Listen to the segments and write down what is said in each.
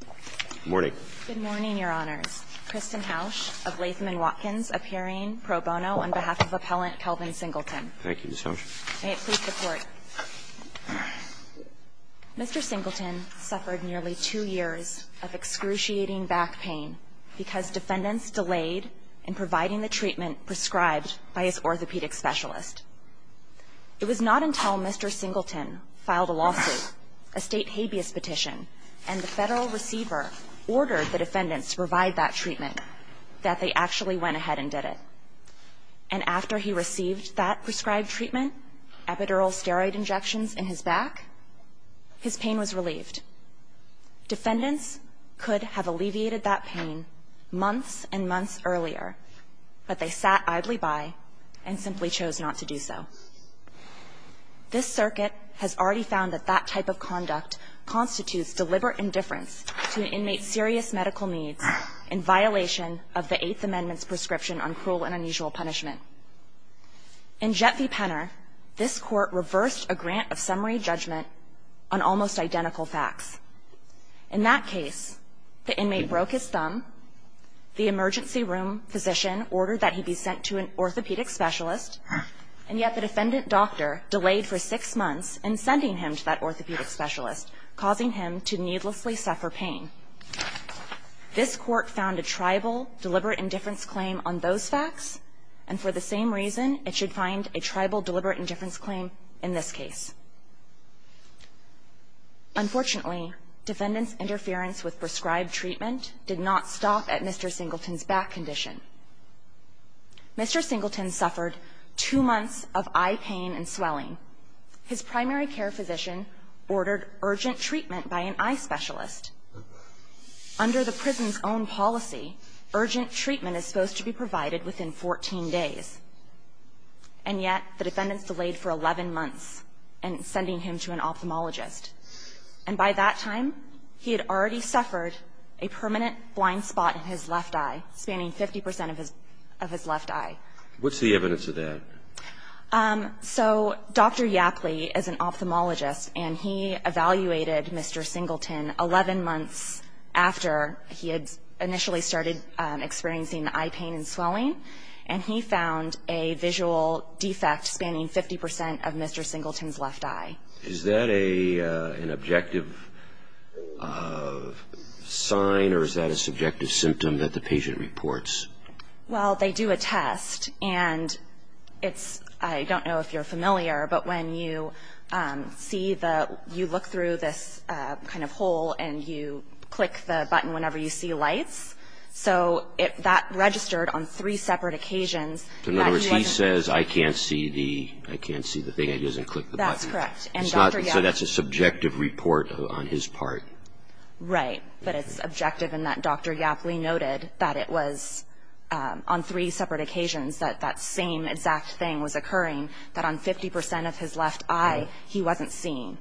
Good morning. Good morning, Your Honors. Kristen Hausch of Latham & Watkins, appearing pro bono on behalf of Appellant Kelvin Singleton. Thank you, Ms. Hausch. May it please the Court. Mr. Singleton suffered nearly two years of excruciating back pain because defendants delayed in providing the treatment prescribed by his orthopedic specialist. It was not until Mr. Singleton filed a lawsuit, a state habeas petition, and the federal receiver ordered the defendants to provide that treatment that they actually went ahead and did it. And after he received that prescribed treatment, epidural steroid injections in his back, his pain was relieved. Defendants could have alleviated that pain months and months earlier, but they sat idly by and simply chose not to do so. This circuit has already found that that type of conduct constitutes deliberate indifference to an inmate's serious medical needs in violation of the Eighth Amendment's prescription on cruel and unusual punishment. In Jet v. Penner, this Court reversed a grant of summary judgment on almost identical facts. In that case, the inmate broke his thumb, the emergency room physician ordered that he be sent to an orthopedic specialist, and yet the defendant doctor delayed for six months in sending him to that orthopedic specialist, causing him to needlessly suffer pain. This Court found a tribal deliberate indifference claim on those facts, and for the same reason, it should find a tribal deliberate indifference claim in this case. Unfortunately, defendants' interference with prescribed treatment did not stop at Mr. Singleton's back condition. Mr. Singleton suffered two months of eye pain and swelling. His primary care physician ordered urgent treatment by an eye specialist. Under the prison's own policy, urgent treatment is supposed to be provided within 14 days, and yet the defendants delayed for 11 months in sending him to an ophthalmologist. And by that time, he had already suffered a permanent blind spot in his left eye, spanning 50 percent of his left eye. What's the evidence of that? So Dr. Yackley is an ophthalmologist, and he evaluated Mr. Singleton 11 months after he had initially started experiencing eye pain and swelling, and he found a visual defect spanning 50 percent of Mr. Singleton's left eye. Is that an objective sign, or is that a subjective symptom that the patient reports? Well, they do a test, and it's – I don't know if you're familiar, but when you see the – you look through this kind of hole and you click the button whenever you see lights. So that registered on three separate occasions. In other words, he says, I can't see the – I can't see the thing. It doesn't click the button. That's correct. So that's a subjective report on his part. Right. But it's objective in that Dr. Yackley noted that it was on three separate occasions that that same exact thing was occurring, that on 50 percent of his left eye, he wasn't seeing.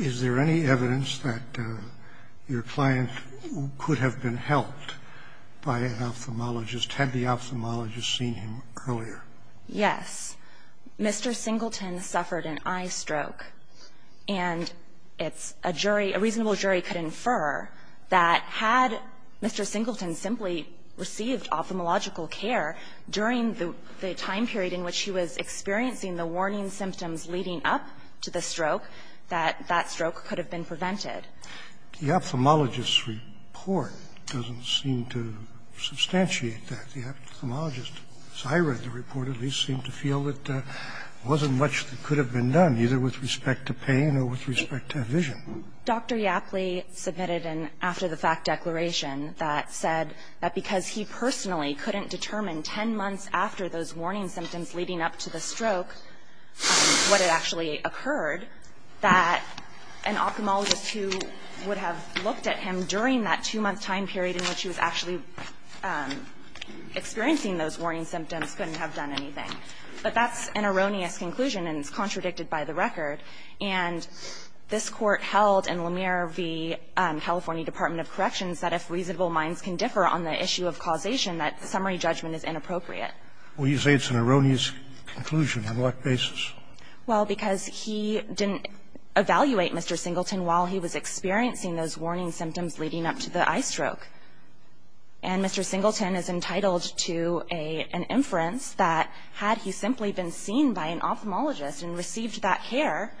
Is there any evidence that your client could have been helped by an ophthalmologist? Had the ophthalmologist seen him earlier? Yes. Mr. Singleton suffered an eye stroke, and it's a jury – a reasonable jury could infer that had Mr. Singleton simply received ophthalmological care during the time period in which he was experiencing the warning symptoms leading up to the stroke, that that stroke could have been prevented. The ophthalmologist's report doesn't seem to substantiate that. The ophthalmologist, as I read the report, at least seemed to feel that there wasn't much that could have been done, either with respect to pain or with respect to vision. Dr. Yackley submitted an after-the-fact declaration that said that because he personally couldn't determine 10 months after those warning symptoms leading up to the stroke what had actually occurred, that an ophthalmologist who would have looked at him during that two-month time period in which he was actually experiencing those warning symptoms couldn't have done anything. But that's an erroneous conclusion, and it's contradicted by the record. And this Court held in Lemire v. California Department of Corrections that if reasonable minds can differ on the issue of causation, that summary judgment is inappropriate. Well, you say it's an erroneous conclusion. On what basis? Well, because he didn't evaluate Mr. Singleton while he was experiencing those warning symptoms leading up to the eye stroke. And Mr. Singleton is entitled to an inference that had he simply been seen by an ophthalmologist and received that care,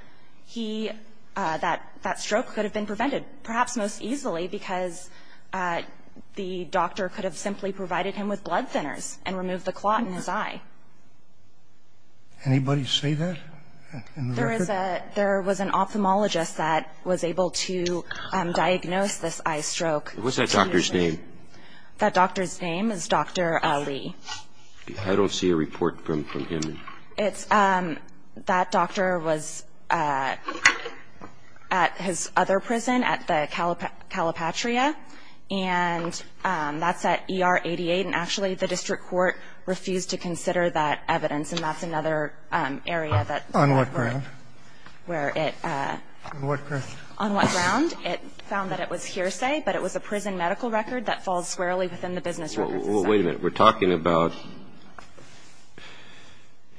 he, that stroke could have been prevented, perhaps most easily because the doctor could have simply provided him with blood thinners and removed the clot in his eye. Anybody say that in the record? There was an ophthalmologist that was able to diagnose this eye stroke. What's that doctor's name? That doctor's name is Dr. Lee. I don't see a report from him. That doctor was at his other prison at the Calipatria, and that's at ER 88. And actually, the district court refused to consider that evidence, and that's another area that we're at. On what ground? On what ground? On what ground? It found that it was hearsay, but it was a prison medical record that falls squarely within the business records. Well, wait a minute. We're talking about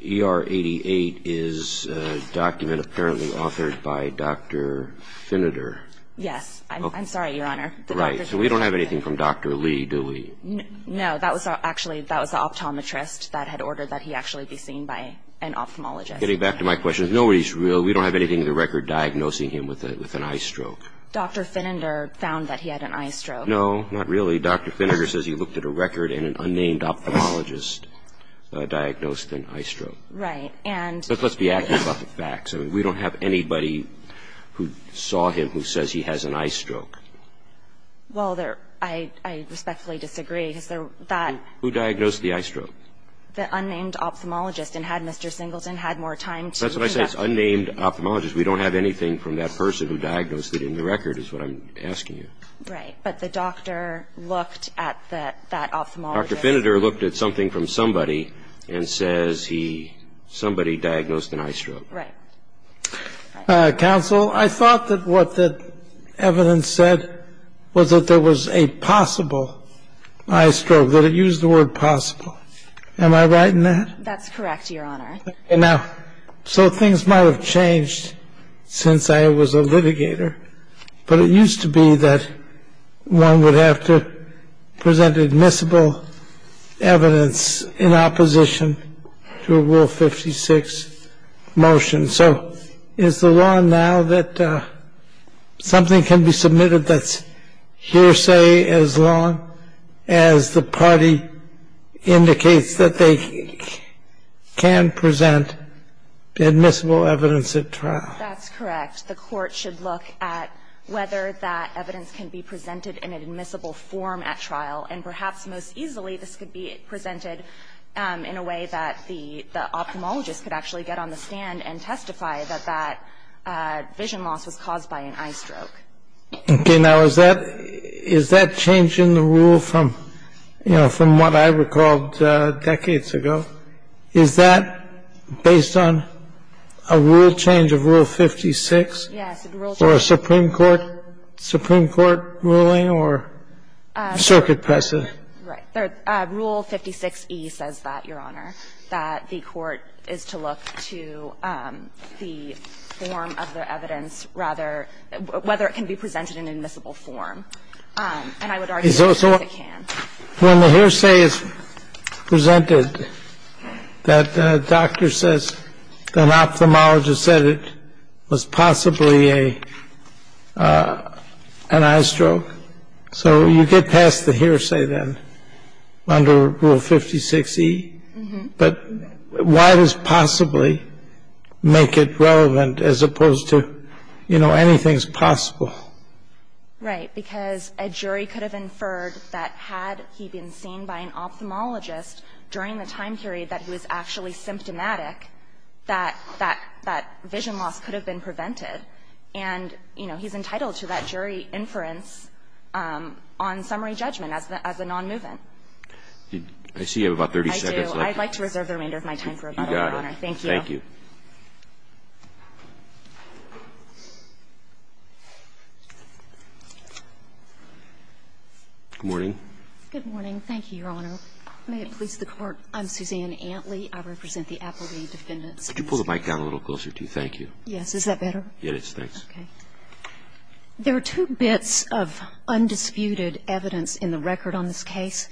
ER 88 is a document apparently authored by Dr. Finiter. Yes. I'm sorry, Your Honor. Right. So we don't have anything from Dr. Lee, do we? No. That was actually the optometrist that had ordered that he actually be seen by an ophthalmologist. Getting back to my question, nobody's real. We don't have anything in the record diagnosing him with an eye stroke. Dr. Finiter found that he had an eye stroke. No, not really. Dr. Finiter says he looked at a record, and an unnamed ophthalmologist diagnosed an eye stroke. Right. But let's be accurate about the facts. We don't have anybody who saw him who says he has an eye stroke. Well, I respectfully disagree. Who diagnosed the eye stroke? The unnamed ophthalmologist. And had Mr. Singleton had more time to look at it. That's what I said. It's unnamed ophthalmologist. We don't have anything from that person who diagnosed it in the record is what I'm asking you. Right. But the doctor looked at that ophthalmologist. Dr. Finiter looked at something from somebody and says he, somebody diagnosed an eye stroke. Right. Counsel, I thought that what the evidence said was that there was a possible eye stroke, that it used the word possible. Am I right in that? That's correct, Your Honor. Now, so things might have changed since I was a litigator. But it used to be that one would have to present admissible evidence in opposition to a Rule 56 motion. So is the law now that something can be submitted that's hearsay as long as the party indicates that they can present admissible evidence at trial? That's correct. The Court should look at whether that evidence can be presented in an admissible form at trial. And perhaps most easily this could be presented in a way that the ophthalmologist could actually get on the stand and testify that that vision loss was caused by an eye stroke. Okay. Now, is that change in the rule from, you know, from what I recalled decades ago, is that based on a rule change of Rule 56? Yes. Or a Supreme Court ruling or circuit precedent? Right. Rule 56E says that, Your Honor, that the Court is to look to the form of the evidence rather – whether it can be presented in admissible form. And I would argue that it can. When the hearsay is presented, that doctor says an ophthalmologist said it was possibly an eye stroke. So you get past the hearsay then under Rule 56E. But why does possibly make it relevant as opposed to, you know, anything's possible? Right. Because a jury could have inferred that had he been seen by an ophthalmologist during the time period that he was actually symptomatic, that that vision loss could have been prevented, and, you know, he's entitled to that jury inference on summary judgment as a nonmovement. I see you have about 30 seconds left. I do. I'd like to reserve the remainder of my time for a bit, Your Honor. You got it. Thank you. Thank you. Good morning. Good morning. Thank you, Your Honor. May it please the Court, I'm Suzanne Antley. I represent the Applegate Defendants. Could you pull the mic down a little closer to you? Thank you. Yes. Is that better? Yes, thanks. Okay. There are two bits of undisputed evidence in the record on this case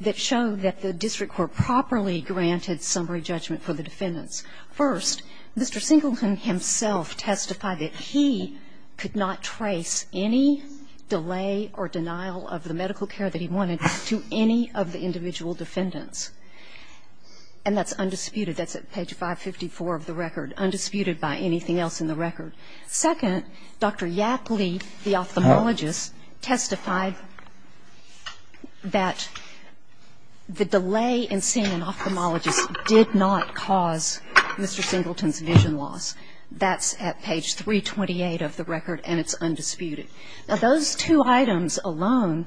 that show that the district court properly granted summary judgment for the defendants. First, Mr. Singleton himself testified that he could not trace any delay or denial of the medical care that he wanted to any of the individual defendants. And that's undisputed. That's at page 554 of the record. Undisputed by anything else in the record. Second, Dr. Yapley, the ophthalmologist, testified that the delay in seeing an ophthalmologist did not cause Mr. Singleton's vision loss. That's at page 328 of the record, and it's undisputed. Now, those two items alone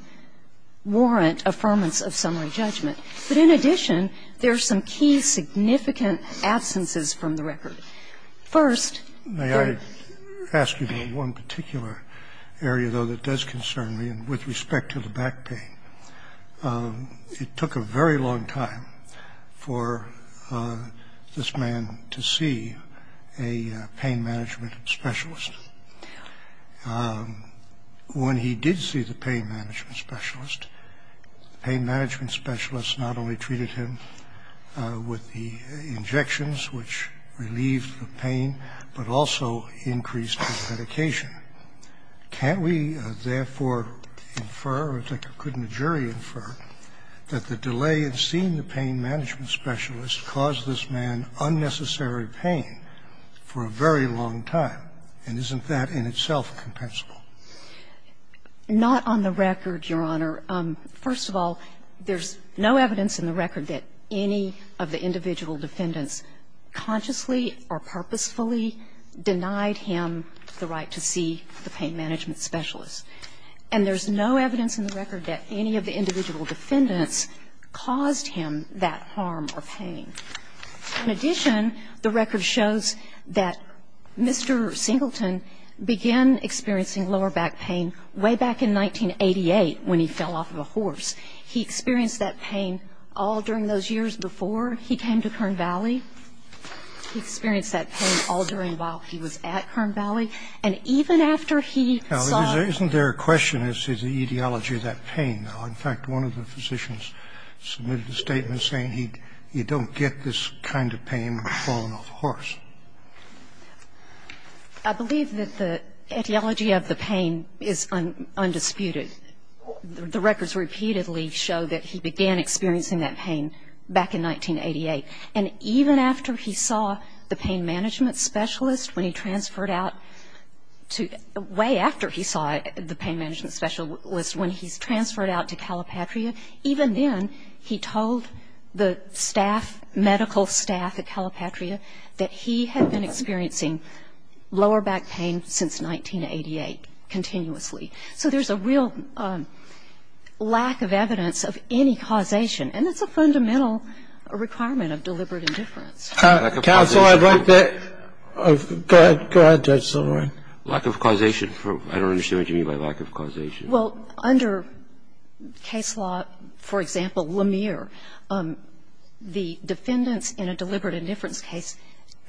warrant affirmance of summary judgment. But in addition, there are some key significant absences from the record. First. May I ask you about one particular area, though, that does concern me with respect to the back pain? It took a very long time for this man to see a pain management specialist. When he did see the pain management specialist, the pain management specialist not only treated him with the injections, which relieved the pain, but also increased his medication. Can't we, therefore, infer, or couldn't a jury infer, that the delay in seeing the pain management specialist caused this man unnecessary pain for a very long time? And isn't that in itself compensable? Not on the record, Your Honor. First of all, there's no evidence in the record that any of the individual defendants consciously or purposefully denied him the right to see the pain management specialist. And there's no evidence in the record that any of the individual defendants caused him that harm or pain. In addition, the record shows that Mr. Singleton began experiencing lower back pain way back in 1988 when he fell off of a horse. He experienced that pain all during those years before he came to Kern Valley. He experienced that pain all during while he was at Kern Valley. And even after he saw the pain. Isn't there a question as to the etiology of that pain? In fact, one of the physicians submitted a statement saying, you don't get this kind of pain when you've fallen off a horse. I believe that the etiology of the pain is undisputed. The records repeatedly show that he began experiencing that pain back in 1988. And even after he saw the pain management specialist, when he transferred out to the way after he saw the pain management specialist, when he's transferred out to Calipatria, even then he told the staff, medical staff at Calipatria that he had been experiencing lower back pain since 1988 continuously. So there's a real lack of evidence of any causation. And it's a fundamental requirement of deliberate indifference. Counsel, I'd like that. Go ahead, Judge Silberman. Lack of causation. I don't understand what you mean by lack of causation. Well, under case law, for example, Lemire, the defendants in a deliberate indifference case,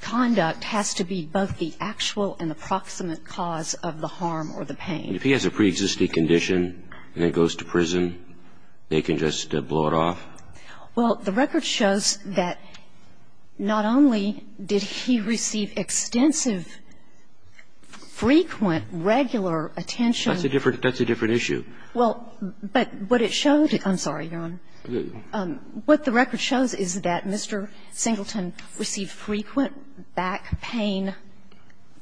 conduct has to be both the actual and the proximate cause of the harm or the pain. And if he has a preexisting condition and it goes to prison, they can just blow it off? Well, the record shows that not only did he receive extensive, frequent, regular attention. That's a different issue. Well, but what it showed, I'm sorry, Your Honor. What the record shows is that Mr. Singleton received frequent back pain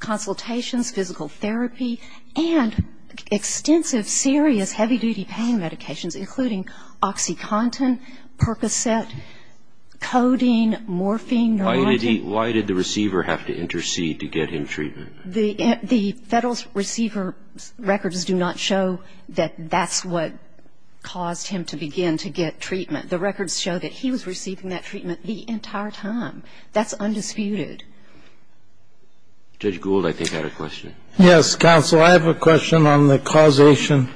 consultations, physical therapy, and extensive, serious, heavy-duty pain medications, including OxyContin, Percocet, codeine, morphine, neurotic. Why did the receiver have to intercede to get him treatment? The Federal's receiver records do not show that that's what caused him to begin to get treatment. The records show that he was receiving that treatment the entire time. That's undisputed. Judge Gould, I think, had a question. Yes, counsel. I have a question on the causation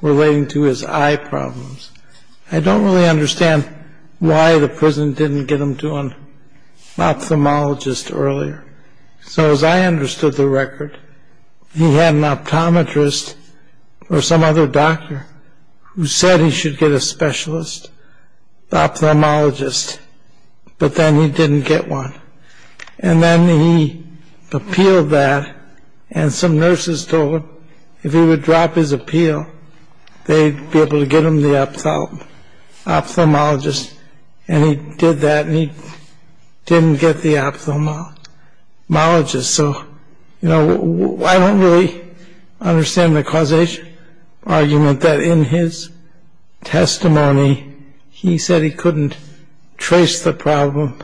relating to his eye problems. I don't really understand why the prison didn't get him to an ophthalmologist earlier. So as I understood the record, he had an optometrist or some other doctor who said he should get a specialist, an ophthalmologist, but then he didn't get one. And then he appealed that, and some nurses told him if he would drop his appeal, they'd be able to get him the ophthalmologist, and he did that, and he didn't get the ophthalmologist. So, you know, I don't really understand the causation argument that in his testimony he said he couldn't trace the problem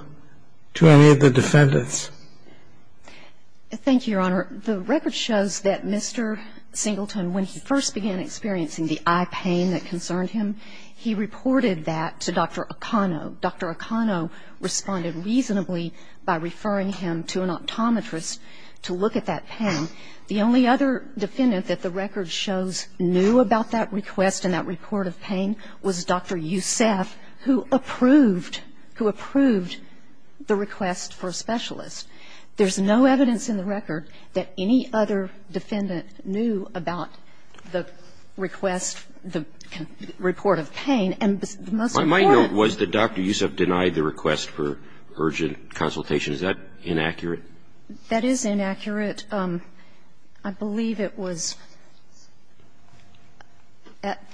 to any of the defendants. Thank you, Your Honor. The record shows that Mr. Singleton, when he first began experiencing the eye pain that concerned him, he reported that to Dr. Acano. Dr. Acano responded reasonably by referring him to an optometrist to look at that pain. The only other defendant that the record shows knew about that request and that report of pain was Dr. Youssef, who approved, who approved the request for a specialist. There's no evidence in the record that any other defendant knew about the request for an ophthalmologist, the report of pain, and the most important was that Dr. Youssef denied the request for urgent consultation. Is that inaccurate? That is inaccurate. I believe it was at the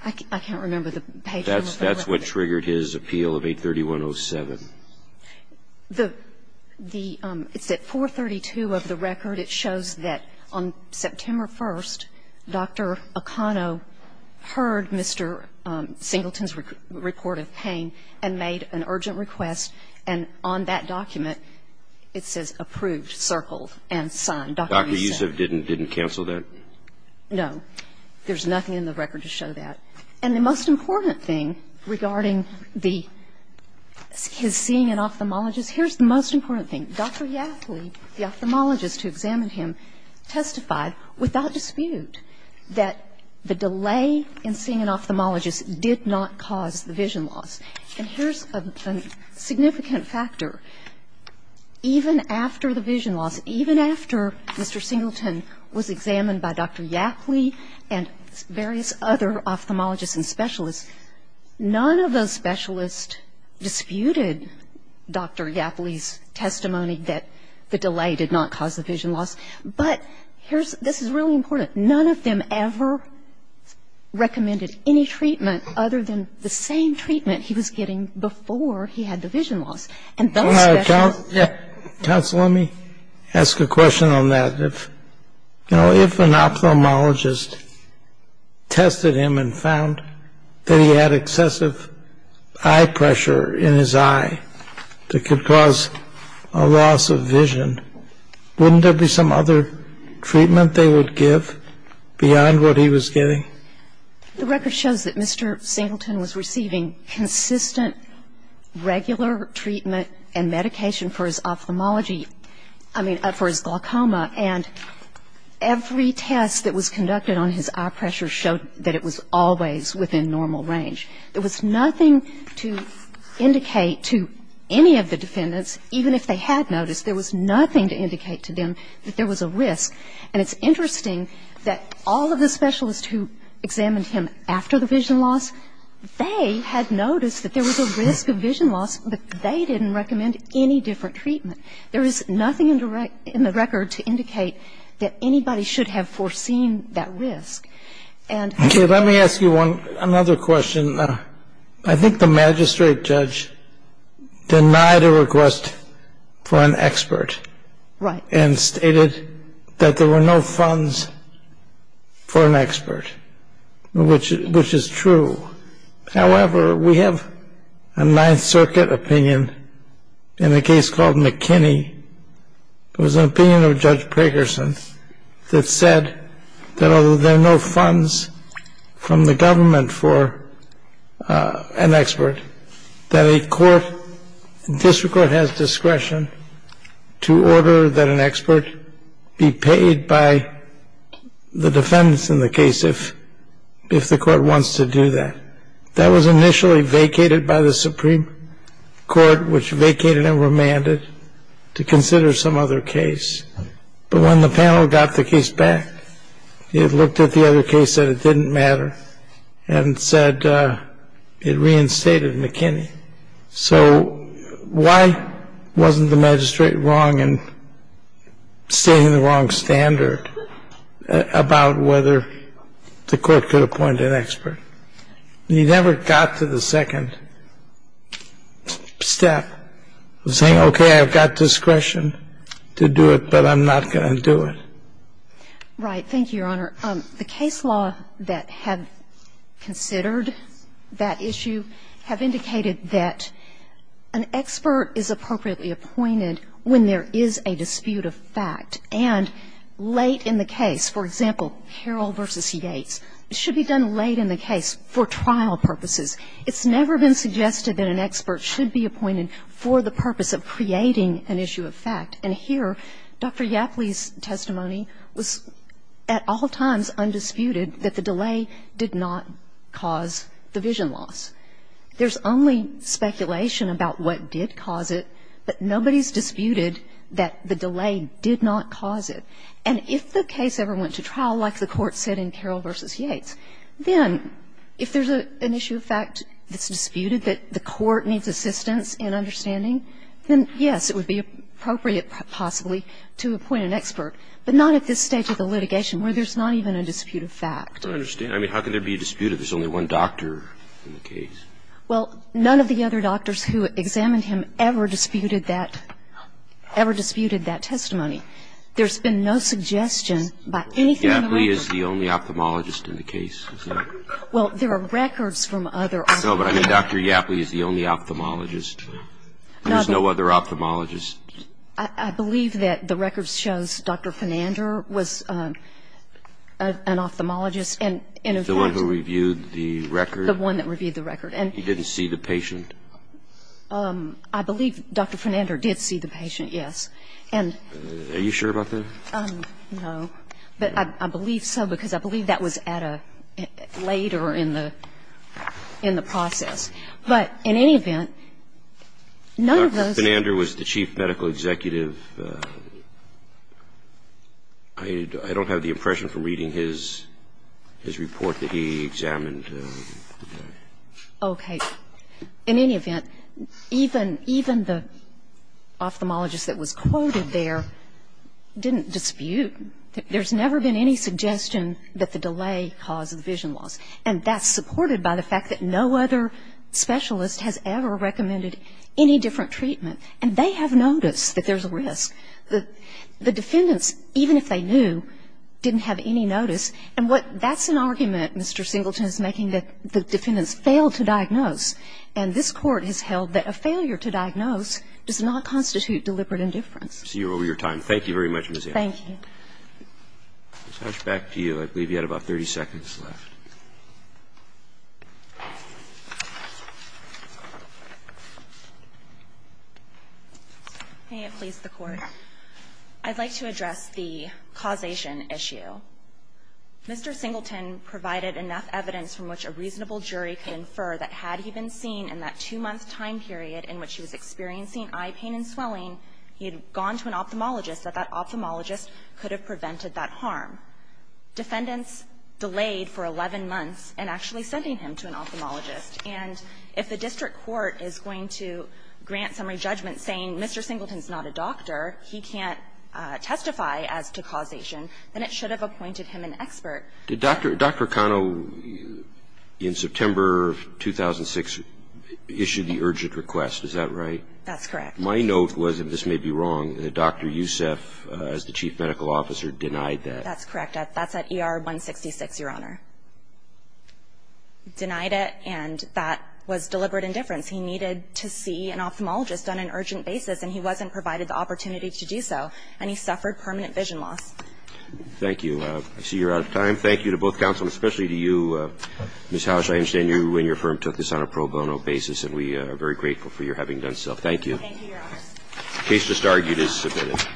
page. I can't remember the page. That's what triggered his appeal of 831.07. It's at 432 of the record. It shows that on September 1st, Dr. Acano heard Mr. Singleton's report of pain and made an urgent request, and on that document it says approved, circled, and signed. Dr. Youssef didn't cancel that? No. There's nothing in the record to show that. And the most important thing regarding the his seeing an ophthalmologist, here's the most important thing. Dr. Yackley, the ophthalmologist who examined him, testified without dispute that the delay in seeing an ophthalmologist did not cause the vision loss. And here's a significant factor. Even after the vision loss, even after Mr. Singleton was examined by Dr. Yackley and various other ophthalmologists and specialists, none of those specialists disputed Dr. Yackley's testimony that the delay did not cause the vision loss. But here's ‑‑ this is really important. None of them ever recommended any treatment other than the same treatment he was getting before he had the vision loss. And those specialists ‑‑ Counsel, let me ask a question on that. You know, if an ophthalmologist tested him and found that he had excessive eye pressure in his eye that could cause a loss of vision, wouldn't there be some other treatment they would give beyond what he was getting? The record shows that Mr. Singleton was receiving consistent, regular treatment and medication for his ophthalmology ‑‑ I mean, for his glaucoma. And every test that was conducted on his eye pressure showed that it was always within normal range. There was nothing to indicate to any of the defendants, even if they had noticed, there was nothing to indicate to them that there was a risk. And it's interesting that all of the specialists who examined him after the vision loss, they didn't recommend any different treatment. There is nothing in the record to indicate that anybody should have foreseen that risk. Okay. Let me ask you another question. I think the magistrate judge denied a request for an expert. Right. And stated that there were no funds for an expert, which is true. However, we have a Ninth Circuit opinion in a case called McKinney. It was an opinion of Judge Prakerson that said that although there are no funds from the government for an expert, that a court ‑‑ the district court has discretion to order that an expert be paid by the defendants in the case if the court wants to do that. That was initially vacated by the Supreme Court, which vacated and remanded to consider some other case. But when the panel got the case back, it looked at the other case, said it didn't matter, and said it reinstated McKinney. So why wasn't the magistrate wrong in stating the wrong standard about whether the court could appoint an expert? He never got to the second step of saying, okay, I've got discretion to do it, but I'm not going to do it. Right. Thank you, Your Honor. The case law that have considered that issue have indicated that an expert is appropriately appointed when there is a dispute of fact. And late in the case, for example, Harrell v. Yates, should be done late in the case for trial purposes. It's never been suggested that an expert should be appointed for the purpose of creating an issue of fact. And here, Dr. Yappley's testimony was at all times undisputed that the delay did not cause the vision loss. There's only speculation about what did cause it, but nobody's disputed that the delay did not cause it. And if the case ever went to trial, like the Court said in Harrell v. Yates, then if there's an issue of fact that's disputed that the Court needs assistance in understanding, then, yes, it would be appropriate, possibly, to appoint an expert. But not at this stage of the litigation where there's not even a dispute of fact. I understand. I mean, how can there be a dispute if there's only one doctor in the case? Well, none of the other doctors who examined him ever disputed that ‑‑ ever disputed that testimony. There's been no suggestion by anything in the record. Is Dr. Yappley the only ophthalmologist in the case? Well, there are records from other ophthalmologists. No, but I mean, Dr. Yappley is the only ophthalmologist. There's no other ophthalmologist. I believe that the record shows Dr. Fernander was an ophthalmologist. And in fact ‑‑ The one who reviewed the record? The one that reviewed the record. And he didn't see the patient? I believe Dr. Fernander did see the patient, yes. And ‑‑ Are you sure about that? No. But I believe so because I believe that was at a ‑‑ later in the process. But in any event, none of those ‑‑ Dr. Fernander was the chief medical executive. I don't have the impression from reading his report that he examined. Okay. In any event, even the ophthalmologist that was quoted there didn't dispute. There's never been any suggestion that the delay caused the vision loss. And that's supported by the fact that no other specialist has ever recommended any different treatment. And they have noticed that there's a risk. The defendants, even if they knew, didn't have any notice. And what ‑‑ that's an argument Mr. Singleton is making, that the defendants failed to diagnose. And this Court has held that a failure to diagnose does not constitute deliberate indifference. I see you're over your time. Thank you very much, Ms. Young. Thank you. Ms. Hatch, back to you. I believe you had about 30 seconds left. May it please the Court. I'd like to address the causation issue. Mr. Singleton provided enough evidence from which a reasonable jury could infer that had he been seen in that two-month time period in which he was experiencing eye pain and swelling, he had gone to an ophthalmologist, that that ophthalmologist could have prevented that harm. Defendants delayed for 11 months in actually sending him to an ophthalmologist. And if the district court is going to grant summary judgment saying Mr. Singleton is not a doctor, he can't testify as to causation, then it should have appointed him an expert. Did Dr. Cano, in September of 2006, issue the urgent request, is that right? That's correct. My note was, and this may be wrong, that Dr. Yousef, as the chief medical officer, denied that. That's correct. That's at ER 166, Your Honor. Denied it, and that was deliberate indifference. He needed to see an ophthalmologist on an urgent basis, and he wasn't provided the opportunity to do so, and he suffered permanent vision loss. Thank you. I see you're out of time. Thank you to both counsel, and especially to you, Ms. Housh. I understand you and your firm took this on a pro bono basis, and we are very grateful for your having done so. Thank you. Thank you, Your Honor. The case just argued is submitted.